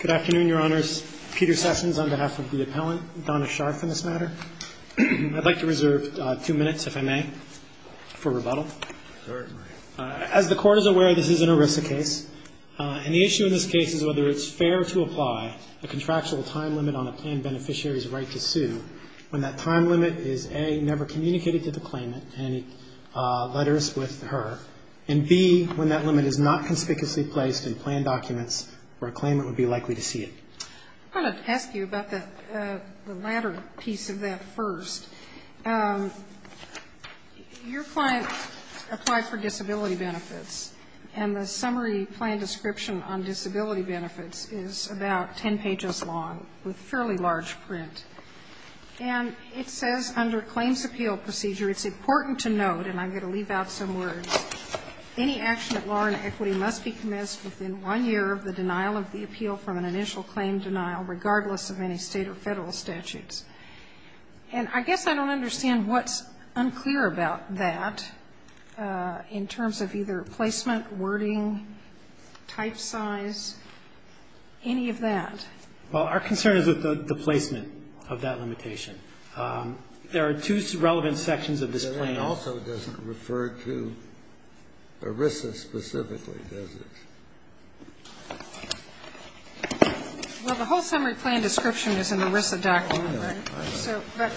Good afternoon, Your Honors. Peter Sessions on behalf of the appellant, Donna Scharff, in this matter. I'd like to reserve two minutes, if I may, for rebuttal. As the Court is aware, this is an ERISA case, and the issue in this case is whether it's fair to apply a contractual time limit on a planned beneficiary's right to sue when that time limit is, A, never communicated to the claimant in any letters with her, and, B, when that limit is not conspicuously placed in planned documents for a claimant with an ERISA claim. I'm going to ask you about the latter piece of that first. Your client applied for disability benefits, and the summary plan description on disability benefits is about 10 pages long, with fairly large print. And it says under claims appeal procedure, it's important to note, and I'm going to leave out some words, any action at law and equity must be commenced within one year of the denial of the appeal of the claim. And I guess I don't understand what's unclear about that in terms of either placement, wording, type size, any of that. Well, our concern is with the placement of that limitation. There are two relevant sections of this plan. That also doesn't refer to ERISA specifically, does it? Well, the whole summary plan description is in the ERISA document, right? So, but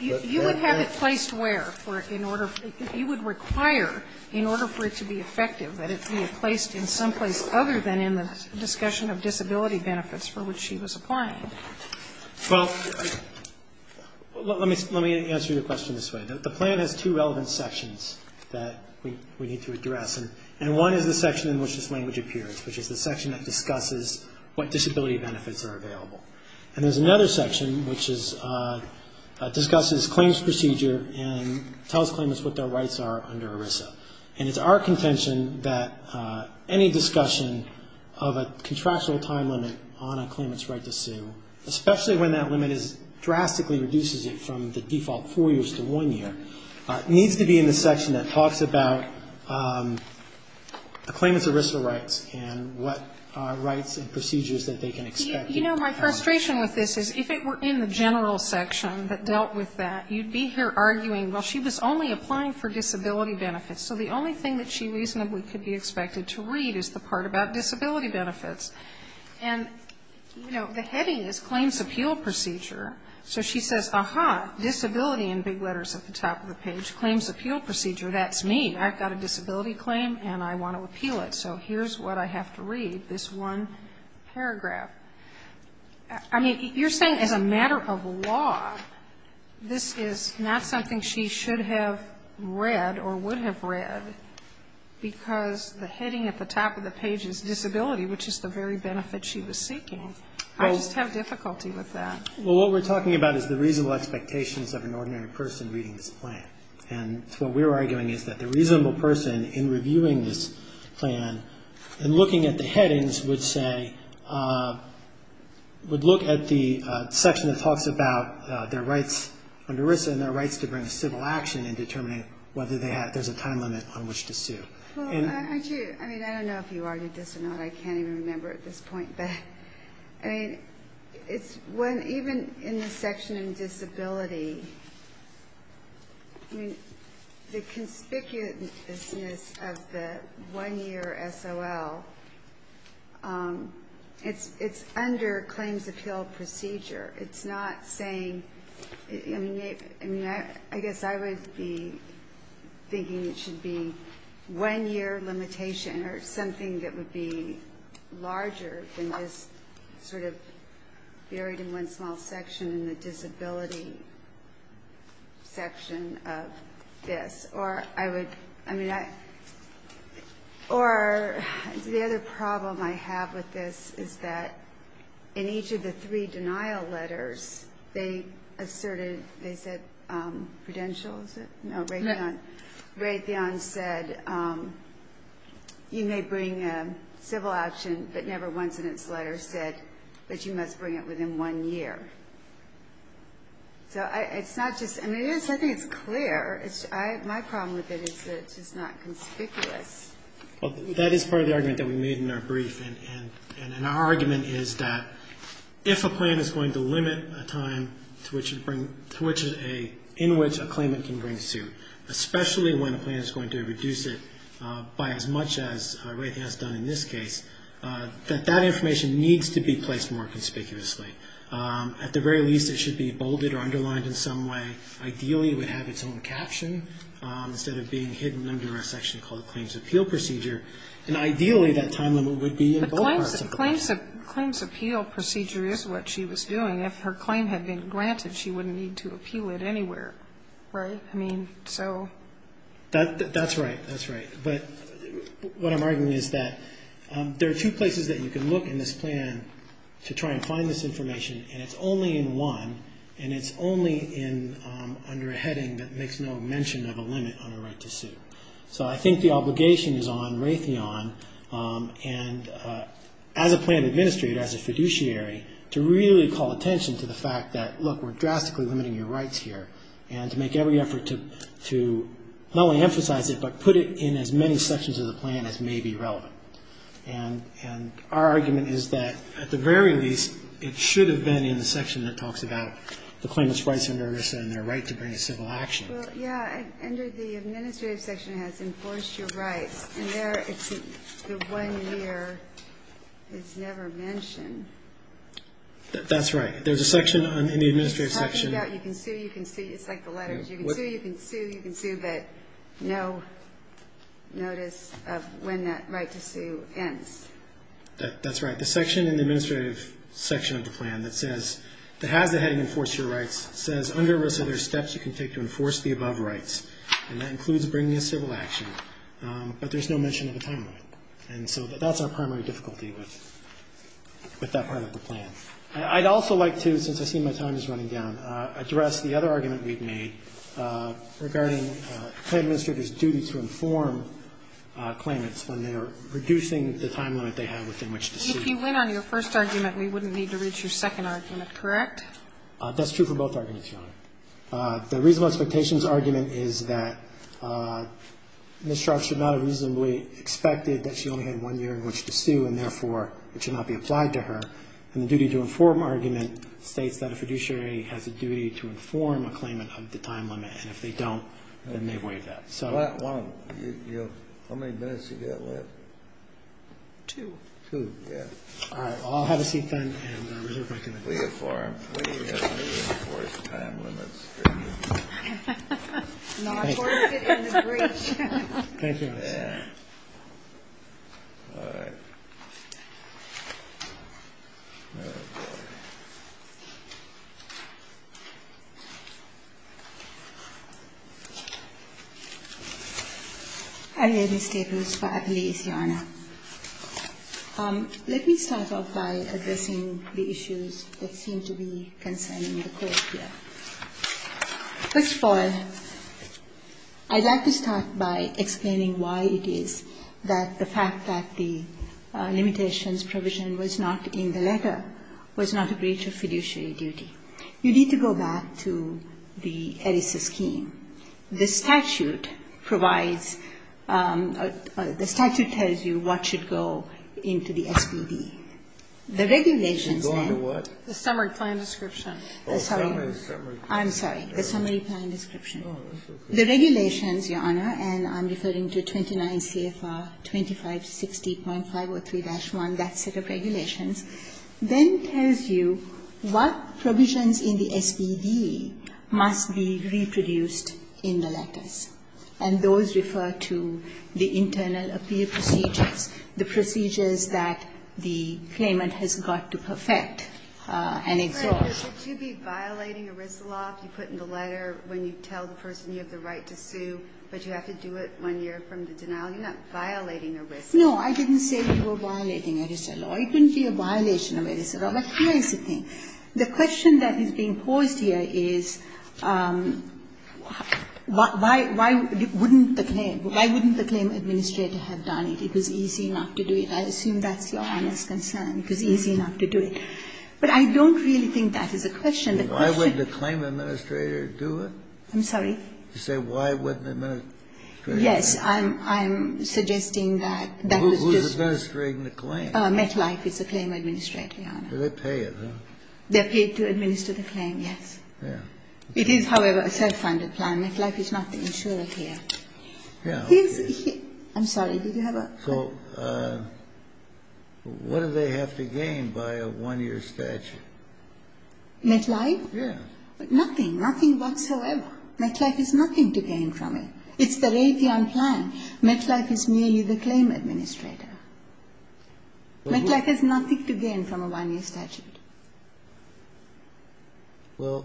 you would have it placed where for, in order, you would require, in order for it to be effective, that it be placed in some place other than in the discussion of disability benefits for which she was applying. Well, let me answer your question this way. The plan has two relevant sections that we need to address, and one is the section in which this language appears, which is the section that discusses what disability benefits are available. And there's another section which is, discusses claims procedure and tells claimants what their rights are under ERISA. And it's our contention that any discussion of a contractual time limit on a claimant's right to sue, especially when that limit is, drastically reduces it from the default four years to one year, needs to be in the section that talks about a claimant's ERISA rights and what rights and procedures that they can expect. You know, my frustration with this is if it were in the general section that dealt with that, you'd be here arguing, well, she was only applying for disability benefits. So the only thing that she reasonably could be expected to read is the part about disability benefits. And, you know, the heading is claims appeal procedure. So she says, aha, disability in big letters at the top of the page, claims appeal procedure, that's me. I've got a disability claim and I want to appeal it. So here's what I have to read, this one paragraph. I mean, you're saying as a matter of law, this is not something she should have read or would have read, because the heading at the top of the page is disability, which is the very benefit she was seeking. I just have difficulty with that. Well, what we're talking about is the reasonable expectations of an ordinary person reading this plan. And what we're arguing is that the reasonable person in reviewing this plan and looking at the headings would say, would look at the section that talks about their rights under ERISA and their rights to bring a civil action in determining whether there's a time limit on which to sue. Well, aren't you, I mean, I don't know if you already did this or not, I can't even remember at this point. But, I mean, even in the section on disability, I mean, the conspicuousness of the one-year SOL, it's under claims appeal procedure. It's not saying, I mean, I guess I would be thinking it should be one-year limitation or something that would be larger than that. But, I mean, I don't know if that is sort of buried in one small section in the disability section of this. Or the other problem I have with this is that in each of the three denial letters, they asserted, they said, Prudential, is it? No, Raytheon. Raytheon said, you may bring a civil action, but never once in its lifetime. And the third denial letter said that you must bring it within one year. So it's not just, and it is, I think it's clear, my problem with it is that it's just not conspicuous. Well, that is part of the argument that we made in our brief. And our argument is that if a plan is going to limit a time to which a, in which a claimant can bring a suit, especially when a plan is going to reduce it by as much as Raytheon has done in this case, that that information needs to be placed more conspicuously. At the very least, it should be bolded or underlined in some way. Ideally, it would have its own caption instead of being hidden under a section called Claims Appeal Procedure. And ideally, that time limit would be in both parts of the plan. But Claims Appeal Procedure is what she was doing. If her claim had been granted, she wouldn't need to appeal it anywhere, right? I mean, so... That's right, that's right. But what I'm arguing is that there are two places that you can look in this plan to try and find this information. And it's only in one, and it's only under a heading that makes no mention of a limit on a right to suit. So I think the obligation is on Raytheon, and as a plan administrator, as a fiduciary, to really call attention to the fact that, look, we're drastically limiting your rights here, and to make every effort to not only emphasize it, but put it in as many sections of the plan as may be relevant. And our argument is that, at the very least, it should have been in the section that talks about the claimants' rights under ERISA and their right to bring a civil action. Well, yeah, under the administrative section, it has enforced your rights. And there, the one year is never mentioned. That's right. There's a section in the administrative section... It's like the letters. You can sue, you can sue, you can sue, but no notice of when that right to sue ends. That's right. The section in the administrative section of the plan that says... says, under ERISA, there's steps you can take to enforce the above rights, and that includes bringing a civil action. But there's no mention of a time limit. And so that's our primary difficulty with that part of the plan. I'd also like to, since I see my time is running down, address the other argument we've made regarding a claim administrator's duty to inform claimants when they're reducing the time limit they have within which to sue. If you went on your first argument, we wouldn't need to read your second argument, correct? That's true for both arguments, Your Honor. The reasonable expectations argument is that Ms. Scharf should not have reasonably expected that she only had one year in which to sue, and therefore it should not be applied to her. And the duty to inform argument states that a fiduciary has a duty to inform a claimant of the time limit, and if they don't, then they waive that. How many minutes do you have left? Two. All right. I'll have a seat then. I'm here, Ms. Tapers, for Appellee's, Your Honor. Let me start off by addressing the issues that seem to be concerning the Court here. First of all, I'd like to start by explaining why it is that the fact that the limitations provision was not in the letter was not a breach of fiduciary duty. You need to go back to the ERISA scheme. The statute provides the statute tells you what should go into the SBB. The regulations then. It's going to what? The summary plan description. Oh, sorry. I'm sorry. The summary plan description. Oh, that's okay. The regulations, Your Honor, and I'm referring to 29 CFR 2560.503-1, that set of regulations, then tells you what provisions in the SBB must be reproduced in the letters. And those refer to the internal appeal procedures, the procedures that the claimant has got to perfect and exhort. But would you be violating ERISA law if you put in the letter when you tell the person you have the right to sue, but you have to do it when you're from the denial? You're not violating ERISA law. No, I didn't say we were violating ERISA law. It wouldn't be a violation of ERISA law. But here is the thing. The question that is being posed here is, why wouldn't the claim? Why wouldn't the claim administrator have done it? It was easy enough to do it. I assume that's Your Honor's concern, it was easy enough to do it. But I don't really think that is a question. The question is why wouldn't the claim administrator do it? I'm sorry? You say why wouldn't the administrator do it? Yes. I'm suggesting that that was just... Who's administering the claim? MetLife is the claim administrator, Your Honor. Do they pay it, though? They're paid to administer the claim, yes. Yeah. It is, however, a self-funded plan. MetLife is not the insurer here. Yeah, okay. I'm sorry. Did you have a... So what do they have to gain by a one-year statute? MetLife? Yeah. Nothing, nothing whatsoever. MetLife has nothing to gain from it. It's the Raytheon plan. MetLife is merely the claim administrator. MetLife has nothing to gain from a one-year statute. Well...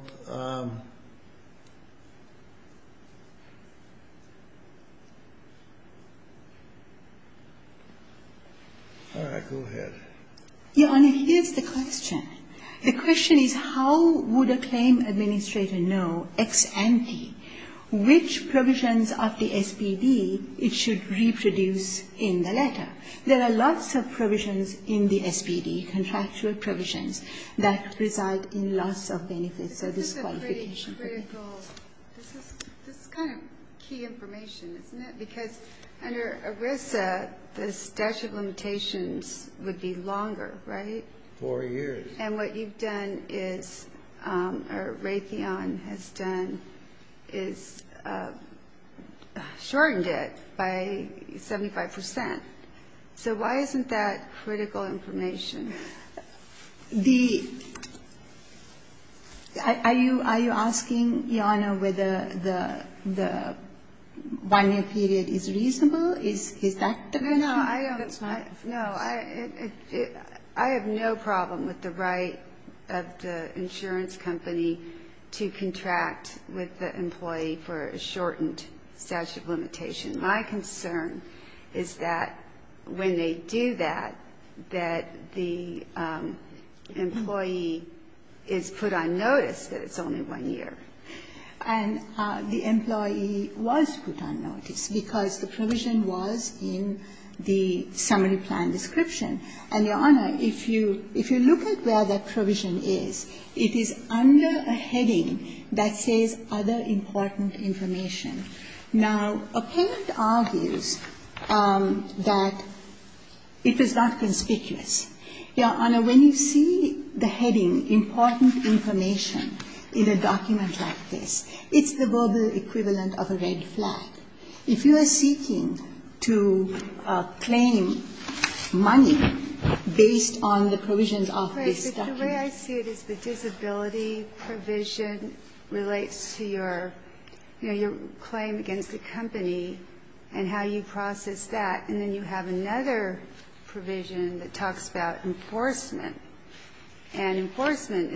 All right. Go ahead. Your Honor, here's the question. The question is how would a claim administrator know, ex ante, which provisions of the SPD it should reproduce in the letter? There are lots of provisions in the SPD, contractual provisions, that reside in loss of benefits or disqualification. This is kind of key information, isn't it? Because under ERISA, the statute of limitations would be longer, right? Four years. And what you've done is, or Raytheon has done, is shortened it by 75%. So why isn't that critical information? The... Are you asking, Your Honor, whether the one-year period is reasonable? Is that the question? No, I don't... That's not... No, I have no problem with the right of the insurance company to contract with the employee for a shortened statute of limitation. My concern is that when they do that, that the employee is put on notice that it's only one year. And the employee was put on notice because the provision was in the summary plan description. And, Your Honor, if you look at where that provision is, it is under a heading that says other important information. Now, a parent argues that it was not conspicuous. Your Honor, when you see the heading important information in a document like this, it's the verbal equivalent of a red flag. If you are seeking to claim money based on the provisions of this document... But the way I see it is the disability provision relates to your claim against the company and how you process that. And then you have another provision that talks about enforcement. And enforcement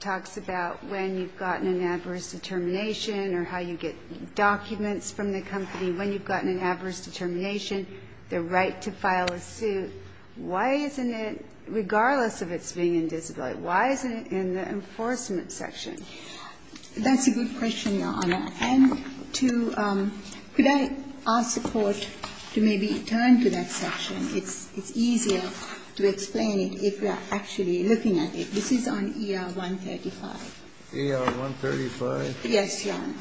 talks about when you've gotten an adverse determination or how you get documents from the company, when you've gotten an adverse determination, the right to file a suit. Why isn't it, regardless of its being in disability, why isn't it in the enforcement section? That's a good question, Your Honor. And to – could I ask the Court to maybe turn to that section? It's easier to explain it if we are actually looking at it. This is on ER-135. ER-135? Yes, Your Honor.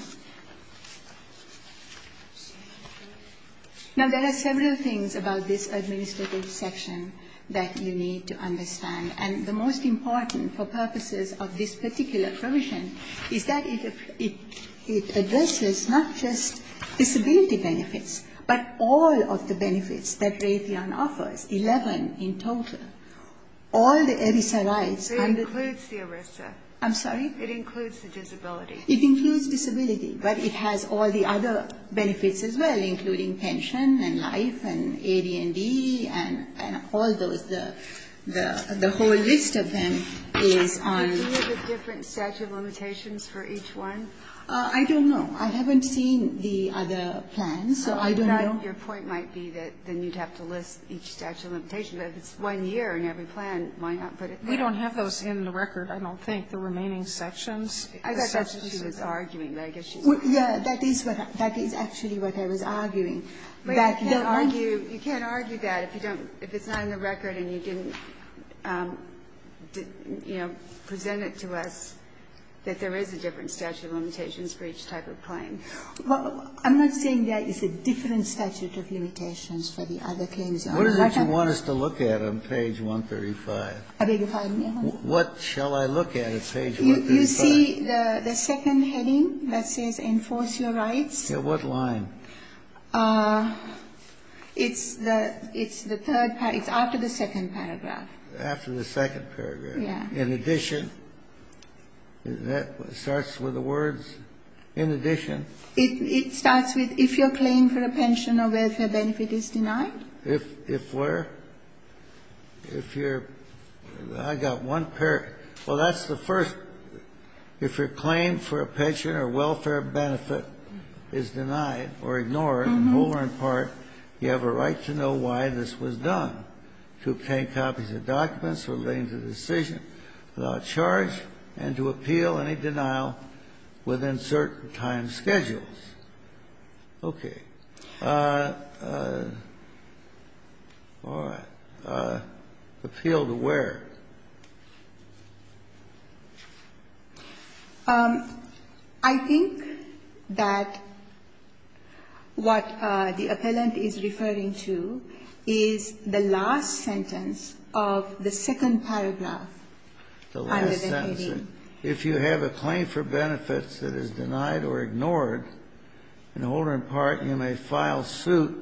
Now, there are several things about this administrative section that you need to understand. And the most important for purposes of this particular provision is that it addresses not just disability benefits, but all of the benefits that Raytheon offers, 11 in total. All the ERISA rights... It includes the ERISA. I'm sorry? It includes the disability. It includes disability, but it has all the other benefits as well, including pension and life and AD&D and all those. The whole list of them is on... Do you have the different statute of limitations for each one? I don't know. I haven't seen the other plans, so I don't know. Your point might be that then you'd have to list each statute of limitation. But if it's one year in every plan, why not put it there? We don't have those in the record, I don't think. The remaining sections... I thought that's what she was arguing, but I guess she's... Yes, that is actually what I was arguing. You can't argue that if it's not in the record and you didn't, you know, present it to us that there is a different statute of limitations for each type of claim. Well, I'm not saying there is a different statute of limitations for the other claims. What is it you want us to look at on page 135? I beg your pardon, Your Honor? What shall I look at on page 135? You see the second heading that says enforce your rights? At what line? It's the third paragraph. It's after the second paragraph. After the second paragraph? Yes. In addition? That starts with the words in addition? It starts with if your claim for a pension or welfare benefit is denied. If where? If your... I got one paragraph. Well, that's the first. If your claim for a pension or welfare benefit is denied or ignored, and more in part, you have a right to know why this was done, to obtain copies of documents relating to the decision without charge and to appeal any denial within certain time schedules. Okay. All right. Appeal to where? I think that what the appellant is referring to is the last sentence of the second paragraph. The last sentence. If you have a claim for benefits that is denied or ignored, and more in part, you may file suit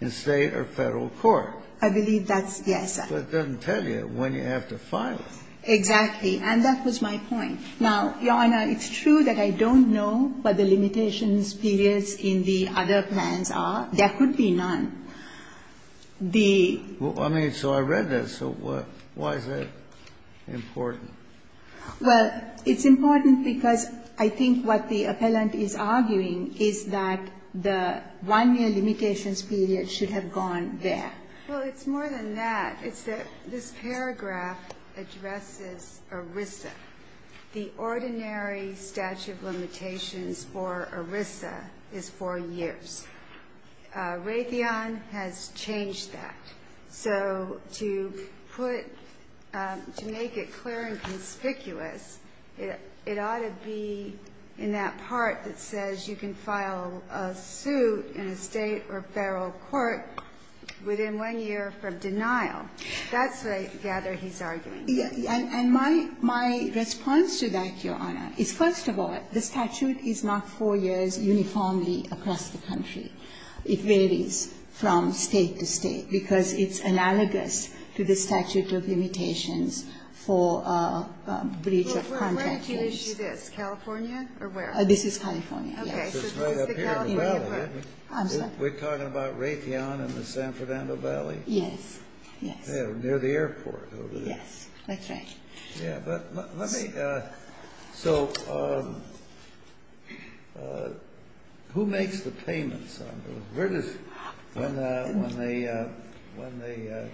in State or Federal court. I believe that's, yes. But it doesn't tell you when you have to file it. Exactly. And that was my point. Now, Your Honor, it's true that I don't know what the limitations periods in the other plans are. There could be none. The... I mean, so I read that. So why is that important? Well, it's important because I think what the appellant is arguing is that the 1-year limitations period should have gone there. Well, it's more than that. It's that this paragraph addresses ERISA. The ordinary statute of limitations for ERISA is 4 years. Raytheon has changed that. So to put to make it clear and conspicuous, it ought to be in that part that says you can file a suit in a State or Federal court within 1 year from denial. That's what I gather he's arguing. And my response to that, Your Honor, is, first of all, the statute is not 4 years uniformly across the country. It varies from State to State because it's analogous to the statute of limitations for breach of contract. Well, where did he issue this? California? Or where? This is California. Okay. So this is the California part. I'm sorry. We're talking about Raytheon and the San Fernando Valley? Yes. Yes. Near the airport over there. Yes. That's right. Yeah. But let me so who makes the payments? When the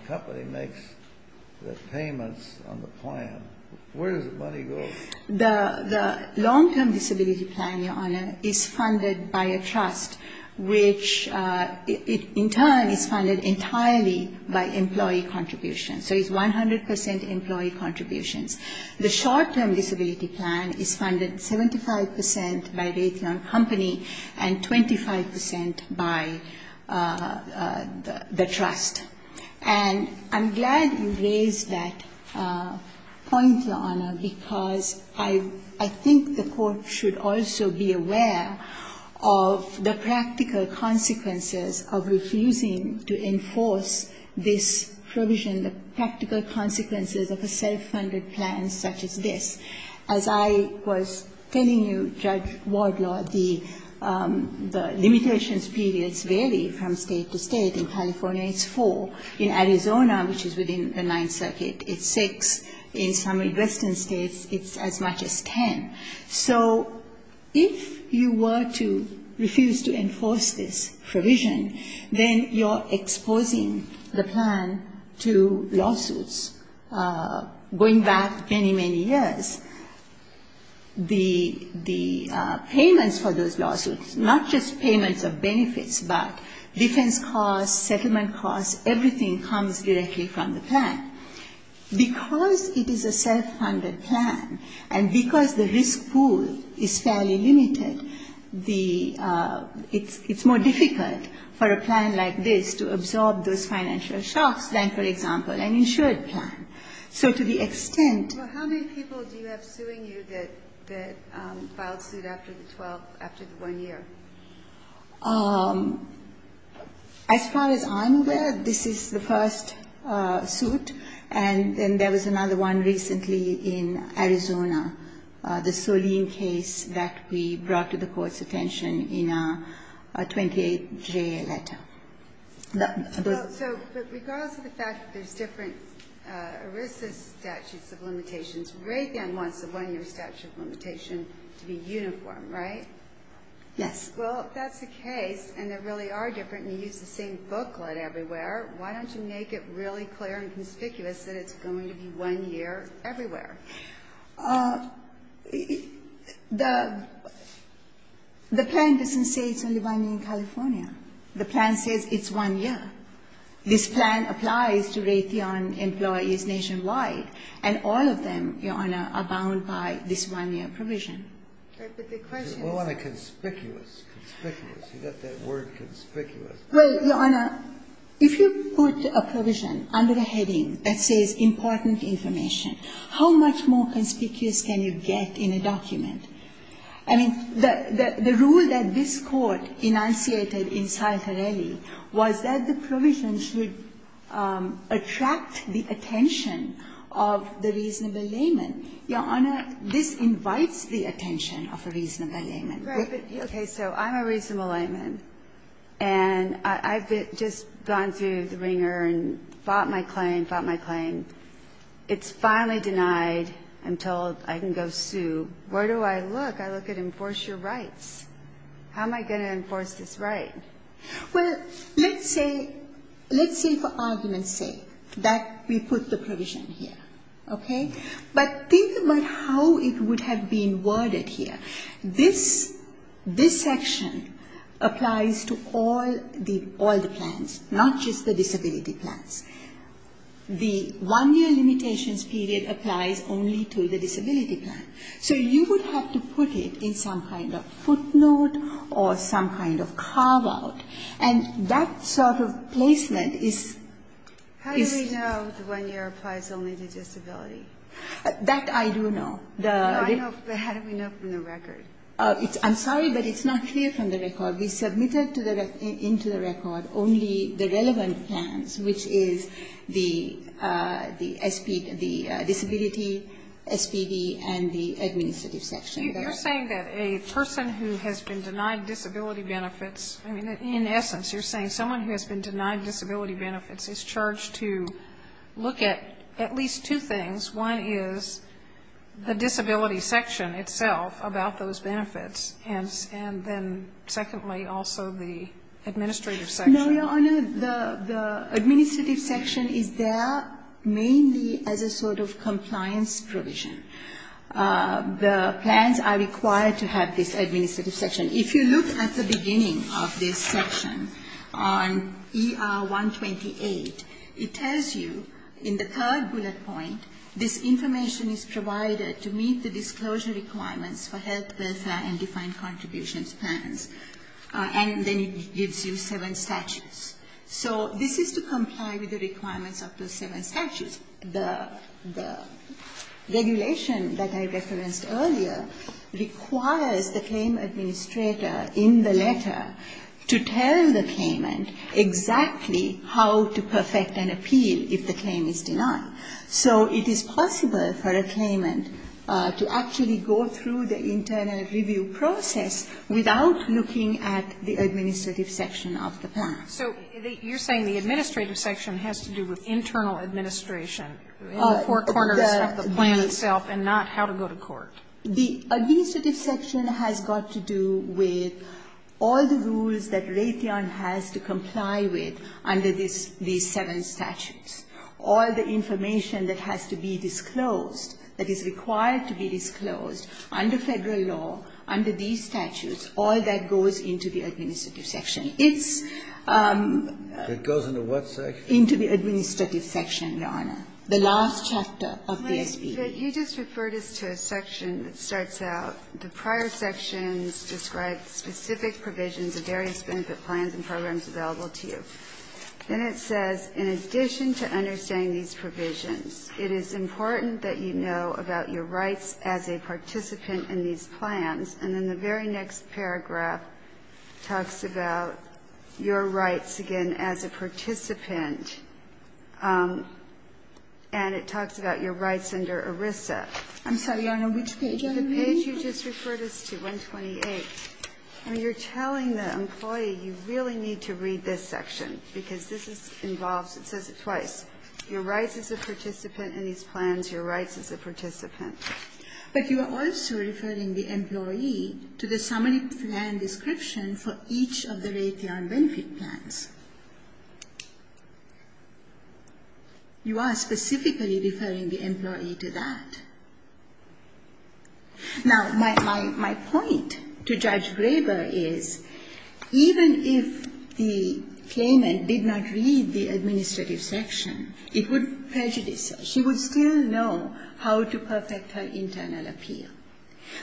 company makes the payments on the plan, where does the money go? The long-term disability plan, Your Honor, is funded by a trust, which in turn is funded entirely by employee contributions. So it's 100% employee contributions. The short-term disability plan is funded 75% by Raytheon Company and 25% by the trust. And I'm glad you raised that point, Your Honor, because I think the court should also be aware of the practical consequences of refusing to enforce this provision, the practical consequences of a self-funded plan such as this. As I was telling you, Judge Wardlaw, the limitations periods vary from state to state. In California, it's four. In Arizona, which is within the Ninth Circuit, it's six. In some western states, it's as much as ten. So if you were to refuse to enforce this provision, then you're exposing the plan to lawsuits. Going back many, many years, the payments for those lawsuits, not just payments of benefits, but defense costs, settlement costs, everything comes directly from the plan. Because it is a self-funded plan and because the risk pool is fairly limited, it's more difficult for a plan like this to absorb those financial shocks than, for example, an insured plan. So to the extent — Well, how many people do you have suing you that filed suit after the one year? As far as I'm aware, this is the first suit, and then there was another one recently in Arizona, the Solene case that we brought to the Court's attention in our 28-J letter. So regardless of the fact that there's different ERISA statutes of limitations, Ray then wants the one-year statute of limitation to be uniform, right? Yes. Well, if that's the case and they really are different and you use the same booklet everywhere, why don't you make it really clear and conspicuous that it's going to be one year everywhere? The plan doesn't say it's only one year in California. The plan says it's one year. This plan applies to Raytheon employees nationwide, and all of them, Your Honor, are bound by this one-year provision. But the question is — We want it conspicuous. Conspicuous. You got that word, conspicuous. Well, Your Honor, if you put a provision under a heading that says important information, how much more conspicuous can you get in a document? I mean, the rule that this Court enunciated in Sal Torelli was that the provision should attract the attention of the reasonable layman. Your Honor, this invites the attention of a reasonable layman. Right. Okay. So I'm a reasonable layman, and I've just gone through the ringer and fought my claim, fought my claim. It's finally denied. I'm told I can go sue. Where do I look? I look at enforce your rights. How am I going to enforce this right? Well, let's say — let's say for argument's sake that we put the provision here. Okay? But think about how it would have been worded here. This — this section applies to all the — all the plans, not just the disability plans. The one-year limitations period applies only to the disability plan. So you would have to put it in some kind of footnote or some kind of carve-out. And that sort of placement is — The one-year applies only to disability. That I do know. No, I know. How do we know from the record? I'm sorry, but it's not clear from the record. We submitted to the — into the record only the relevant plans, which is the — the disability, SPD, and the administrative section. You're saying that a person who has been denied disability benefits — I mean, in essence, you're saying someone who has been denied disability benefits is charged to look at at least two things. One is the disability section itself about those benefits, and then secondly, also the administrative section. No, Your Honor. The administrative section is there mainly as a sort of compliance provision. The plans are required to have this administrative section. If you look at the beginning of this section on ER 128, it tells you in the third bullet point, this information is provided to meet the disclosure requirements for health, welfare, and defined contributions plans. And then it gives you seven statutes. So this is to comply with the requirements of those seven statutes. The regulation that I referenced earlier requires the claim administrator in the letter to tell the claimant exactly how to perfect an appeal if the claim is denied. So it is possible for a claimant to actually go through the internal review process without looking at the administrative section of the plan. Sotomayor, so you're saying the administrative section has to do with internal administration, in the four corners of the plan itself, and not how to go to court? The administrative section has got to do with all the rules that Raytheon has to comply with under these seven statutes, all the information that has to be disclosed, that is required to be disclosed under Federal law, under these statutes, all that goes into the administrative section. It's the last chapter of the S.P.E. Ginsburg, you just referred us to a section that starts out, the prior sections describe specific provisions of various benefit plans and programs available to you. Then it says, in addition to understanding these provisions, it is important that you know about your rights as a participant in these plans. And then the very next paragraph talks about your rights, again, as a participant, and it talks about your rights under ERISA. I'm sorry, Your Honor, which page are you reading? The page you just referred us to, 128. And you're telling the employee, you really need to read this section, because this is involved. It says it twice. Your rights as a participant in these plans, your rights as a participant. But you are also referring the employee to the summary plan description for each of the rate and benefit plans. You are specifically referring the employee to that. Now, my point to Judge Graber is, even if the claimant did not read the administrative section, it would prejudice her. She would still know how to perfect her internal appeal.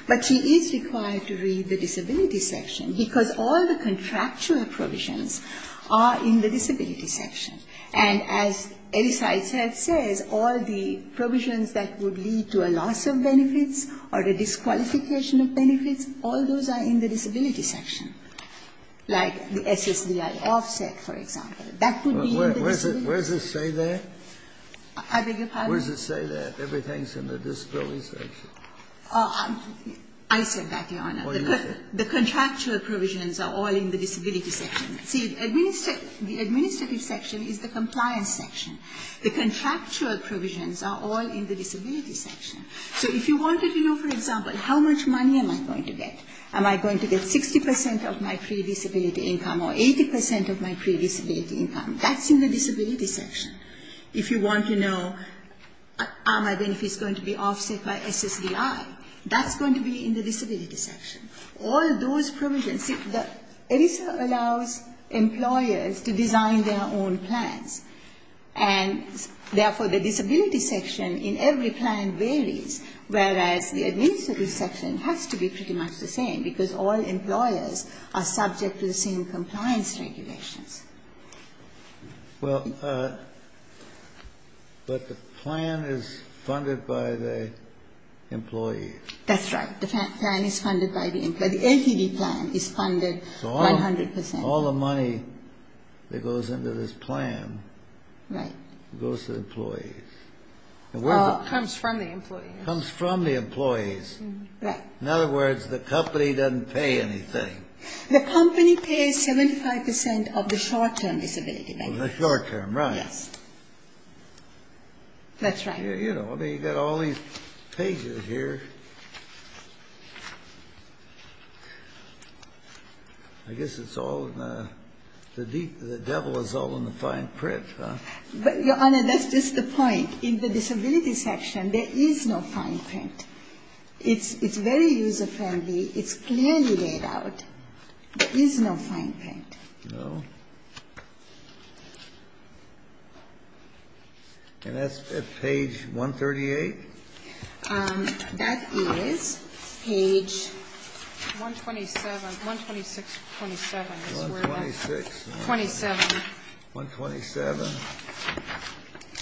But she is required to read the disability section, because all the contractual provisions are in the disability section. And as ERISA itself says, all the provisions that would lead to a loss of benefits or a disqualification of benefits, all those are in the disability section, like the SSDI offset, for example. That would be in the disability section. Where's the say there? Where's the say there? Everything's in the disability section. I said that, Your Honor. The contractual provisions are all in the disability section. See, the administrative section is the compliance section. The contractual provisions are all in the disability section. So if you wanted to know, for example, how much money am I going to get, am I going to get 60 percent of my pre-disability income or 80 percent of my pre-disability income, that's going to be in the disability section. If you want to know are my benefits going to be offset by SSDI, that's going to be in the disability section. All those provisions. See, ERISA allows employers to design their own plans. And therefore, the disability section in every plan varies, whereas the administrative section has to be pretty much the same, because all employers are But the plan is funded by the employees. That's right. The plan is funded by the employees. The LTV plan is funded 100 percent. So all the money that goes into this plan goes to the employees. It comes from the employees. It comes from the employees. Right. In other words, the company doesn't pay anything. The company pays 75 percent of the short-term disability benefits. The short-term, right. Yes. That's right. You know, I mean, you've got all these pages here. I guess it's all the devil is all in the fine print, huh? Your Honor, that's just the point. In the disability section, there is no fine print. It's very user-friendly. It's clearly laid out. There is no fine print. No. And that's at page 138? That is page 127, 126, 127. 126. 27. 127.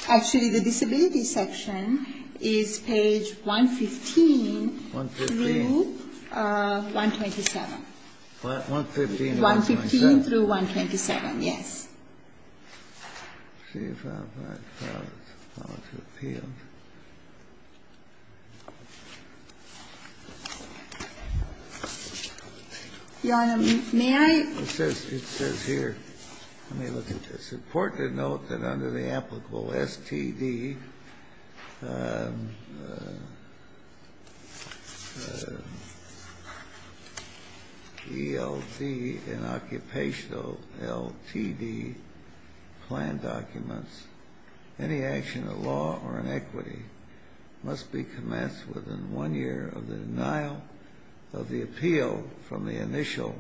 Actually, the disability section is page 115 through 127. 115 to 127. Page 115 through 127. Yes. Let's see if I've got it. Your Honor, may I? It says here. Let me look at this. It's important to note that under the applicable STD, ELD and occupational LTD plan documents, any action of law or in equity must be commenced within one year of the denial of the appeal from the initial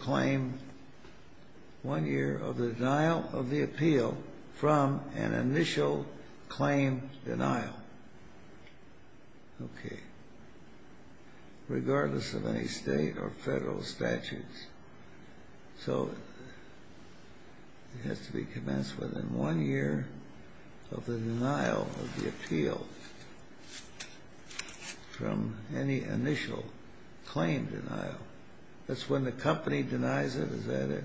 claim. One year of the denial of the appeal from an initial claim denial. Okay. Regardless of any state or federal statutes. So it has to be commenced within one year of the denial of the appeal from any initial claim denial. That's when the company denies it? Is that it?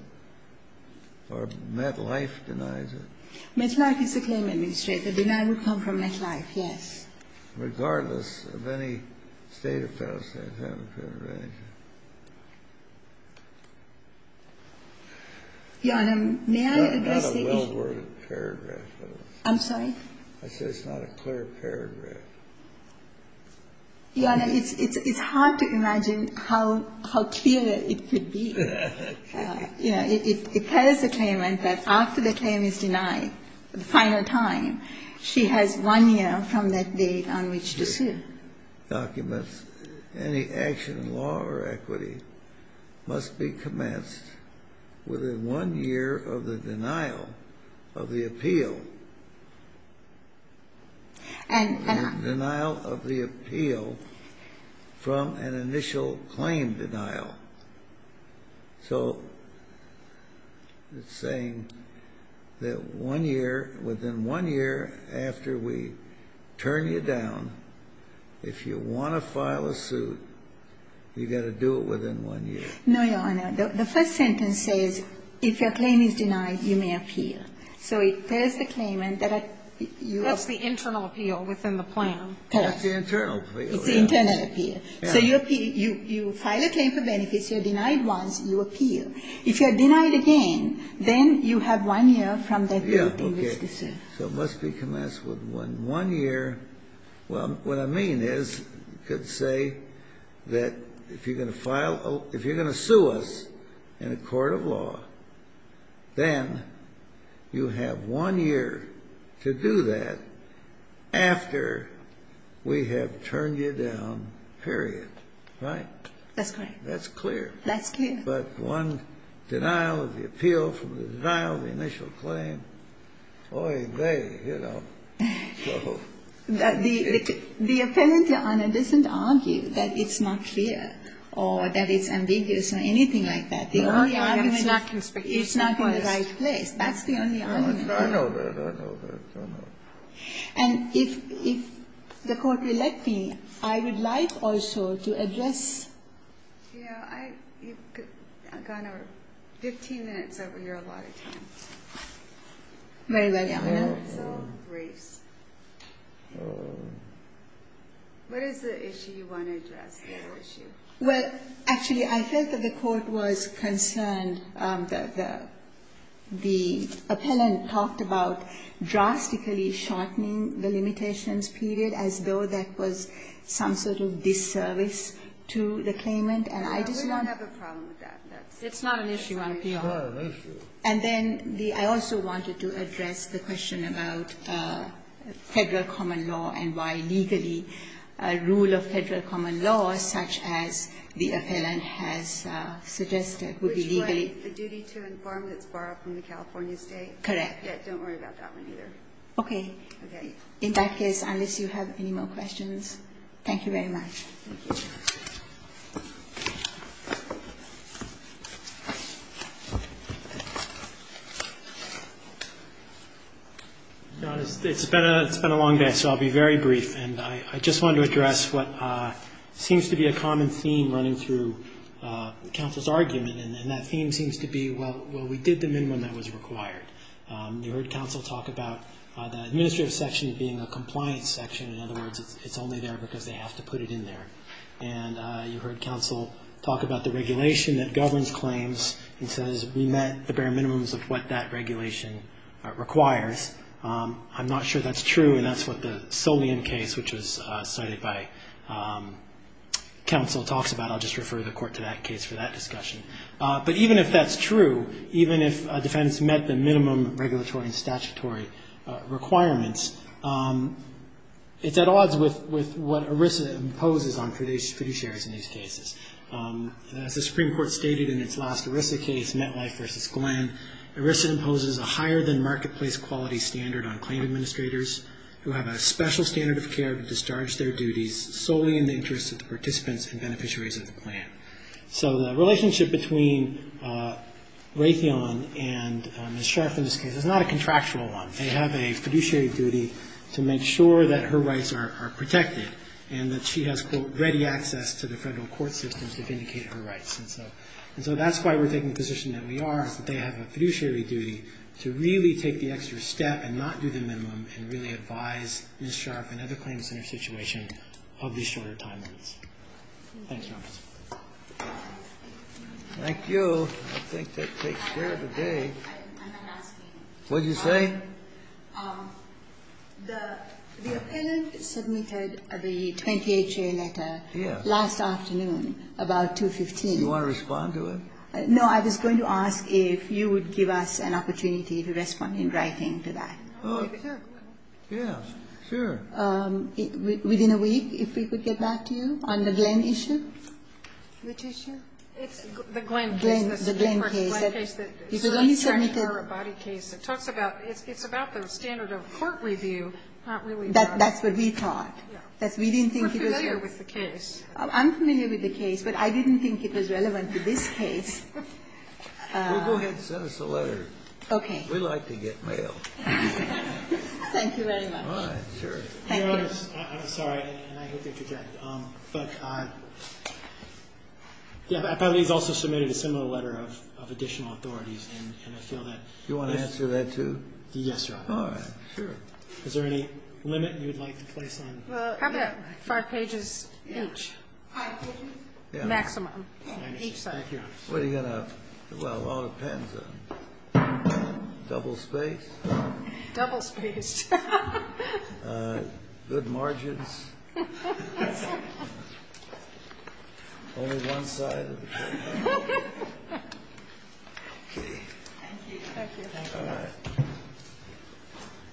Or MetLife denies it? MetLife is a claim administrator. Denial will come from MetLife, yes. Regardless of any state or federal state. Your Honor, may I address the issue? It's not a well-worded paragraph. I'm sorry? I said it's not a clear paragraph. Your Honor, it's hard to imagine how clear it could be. It tells the claimant that after the claim is denied, the final time, she has one year from that date on which to sue. Documents, any action in law or equity must be commenced within one year of the denial of the appeal. Denial of the appeal from an initial claim denial. So it's saying that one year, within one year after we turn you down, if you want to file a suit, you've got to do it within one year. No, Your Honor. The first sentence says if your claim is denied, you may appeal. That's the internal appeal within the plan. That's the internal appeal. It's the internal appeal. So you file a claim for benefits, you're denied once, you appeal. If you're denied again, then you have one year from that date on which to sue. So it must be commenced within one year. Well, what I mean is you could say that if you're going to sue us in a court of law, then you have one year to do that after we have turned you down, period. Right? That's correct. That's clear. That's clear. But one denial of the appeal from the denial of the initial claim. Oy vey, you know. The appellant, Your Honor, doesn't argue that it's not clear or that it's ambiguous or anything like that. The only argument is it's not in the right place. That's the only argument. I know that. I know that. I know that. And if the court will let me, I would like also to address. Yeah, I've gone over 15 minutes over here, a lot of time. Very well, Your Honor. So, Grace, what is the issue you want to address, the whole issue? Well, actually, I think that the court was concerned. And the appellant talked about drastically shortening the limitations period as though that was some sort of disservice to the claimant. And I just want to. We don't have a problem with that. It's not an issue on PR. It's not an issue. And then I also wanted to address the question about Federal common law and why legally rule of Federal common law such as the appellant has suggested would be legally. Which one? The duty to inform that's borrowed from the California State? Correct. Yeah, don't worry about that one either. Okay. Okay. In that case, unless you have any more questions. Thank you very much. Thank you. Your Honor, it's been a long day, so I'll be very brief. And I just wanted to address what seems to be a common theme running through counsel's argument. And that theme seems to be, well, we did them in when that was required. You heard counsel talk about the administrative section being a compliance section. In other words, it's only there because they have to put it in there. And you heard counsel talk about the regulation that governs claims and says, we met the bare minimums of what that regulation requires. I'm not sure that's true, and that's what the Solian case, which was cited by counsel, talks about. I'll just refer the Court to that case for that discussion. But even if that's true, even if a defense met the minimum regulatory and statutory requirements, it's at odds with what ERISA imposes on fiduciaries in these cases. As the Supreme Court stated in its last ERISA case, Metlife v. Glenn, ERISA imposes a higher-than-marketplace quality standard on claim administrators who have a special standard of care to discharge their duties solely in the interest of the participants and beneficiaries of the plan. So the relationship between Raytheon and Ms. Scharf in this case is not a contractual one. They have a fiduciary duty to make sure that her rights are protected and that she has, quote, ready access to the federal court systems to vindicate her rights. And so that's why we're taking the position that we are, is that they have a fiduciary duty to really take the extra step and not do the minimum and really advise Ms. Scharf and other claim centers' situation of these shorter time limits. Thank you. I think that takes care of the day. What did you say? The appellant submitted the 28-year letter last afternoon about 215. Do you want to respond to it? No. I was going to ask if you would give us an opportunity to respond in writing to that. Yes, sure. Within a week, if we could get back to you on the Glenn issue. Which issue? The Glenn case. The Glenn case. The Glenn case. It's about the standard of court review. That's what we thought. We're familiar with the case. I'm familiar with the case, but I didn't think it was relevant to this case. Well, go ahead and send us a letter. Okay. We like to get mail. Thank you very much. All right. Sure. I'm sorry. I hope you're correct. The appellant has also submitted a similar letter of additional authorities. Do you want to answer that, too? Yes, Your Honor. All right. Sure. Is there any limit you would like to place on that? How about five pages each? Five pages? Maximum, each side. Thank you, Your Honor. Well, it all depends on double space. Double space. Good margins. Only one side. Okay. Thank you. Thank you. All right.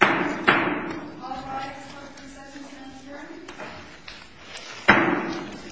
All rise for the presentation of the jury.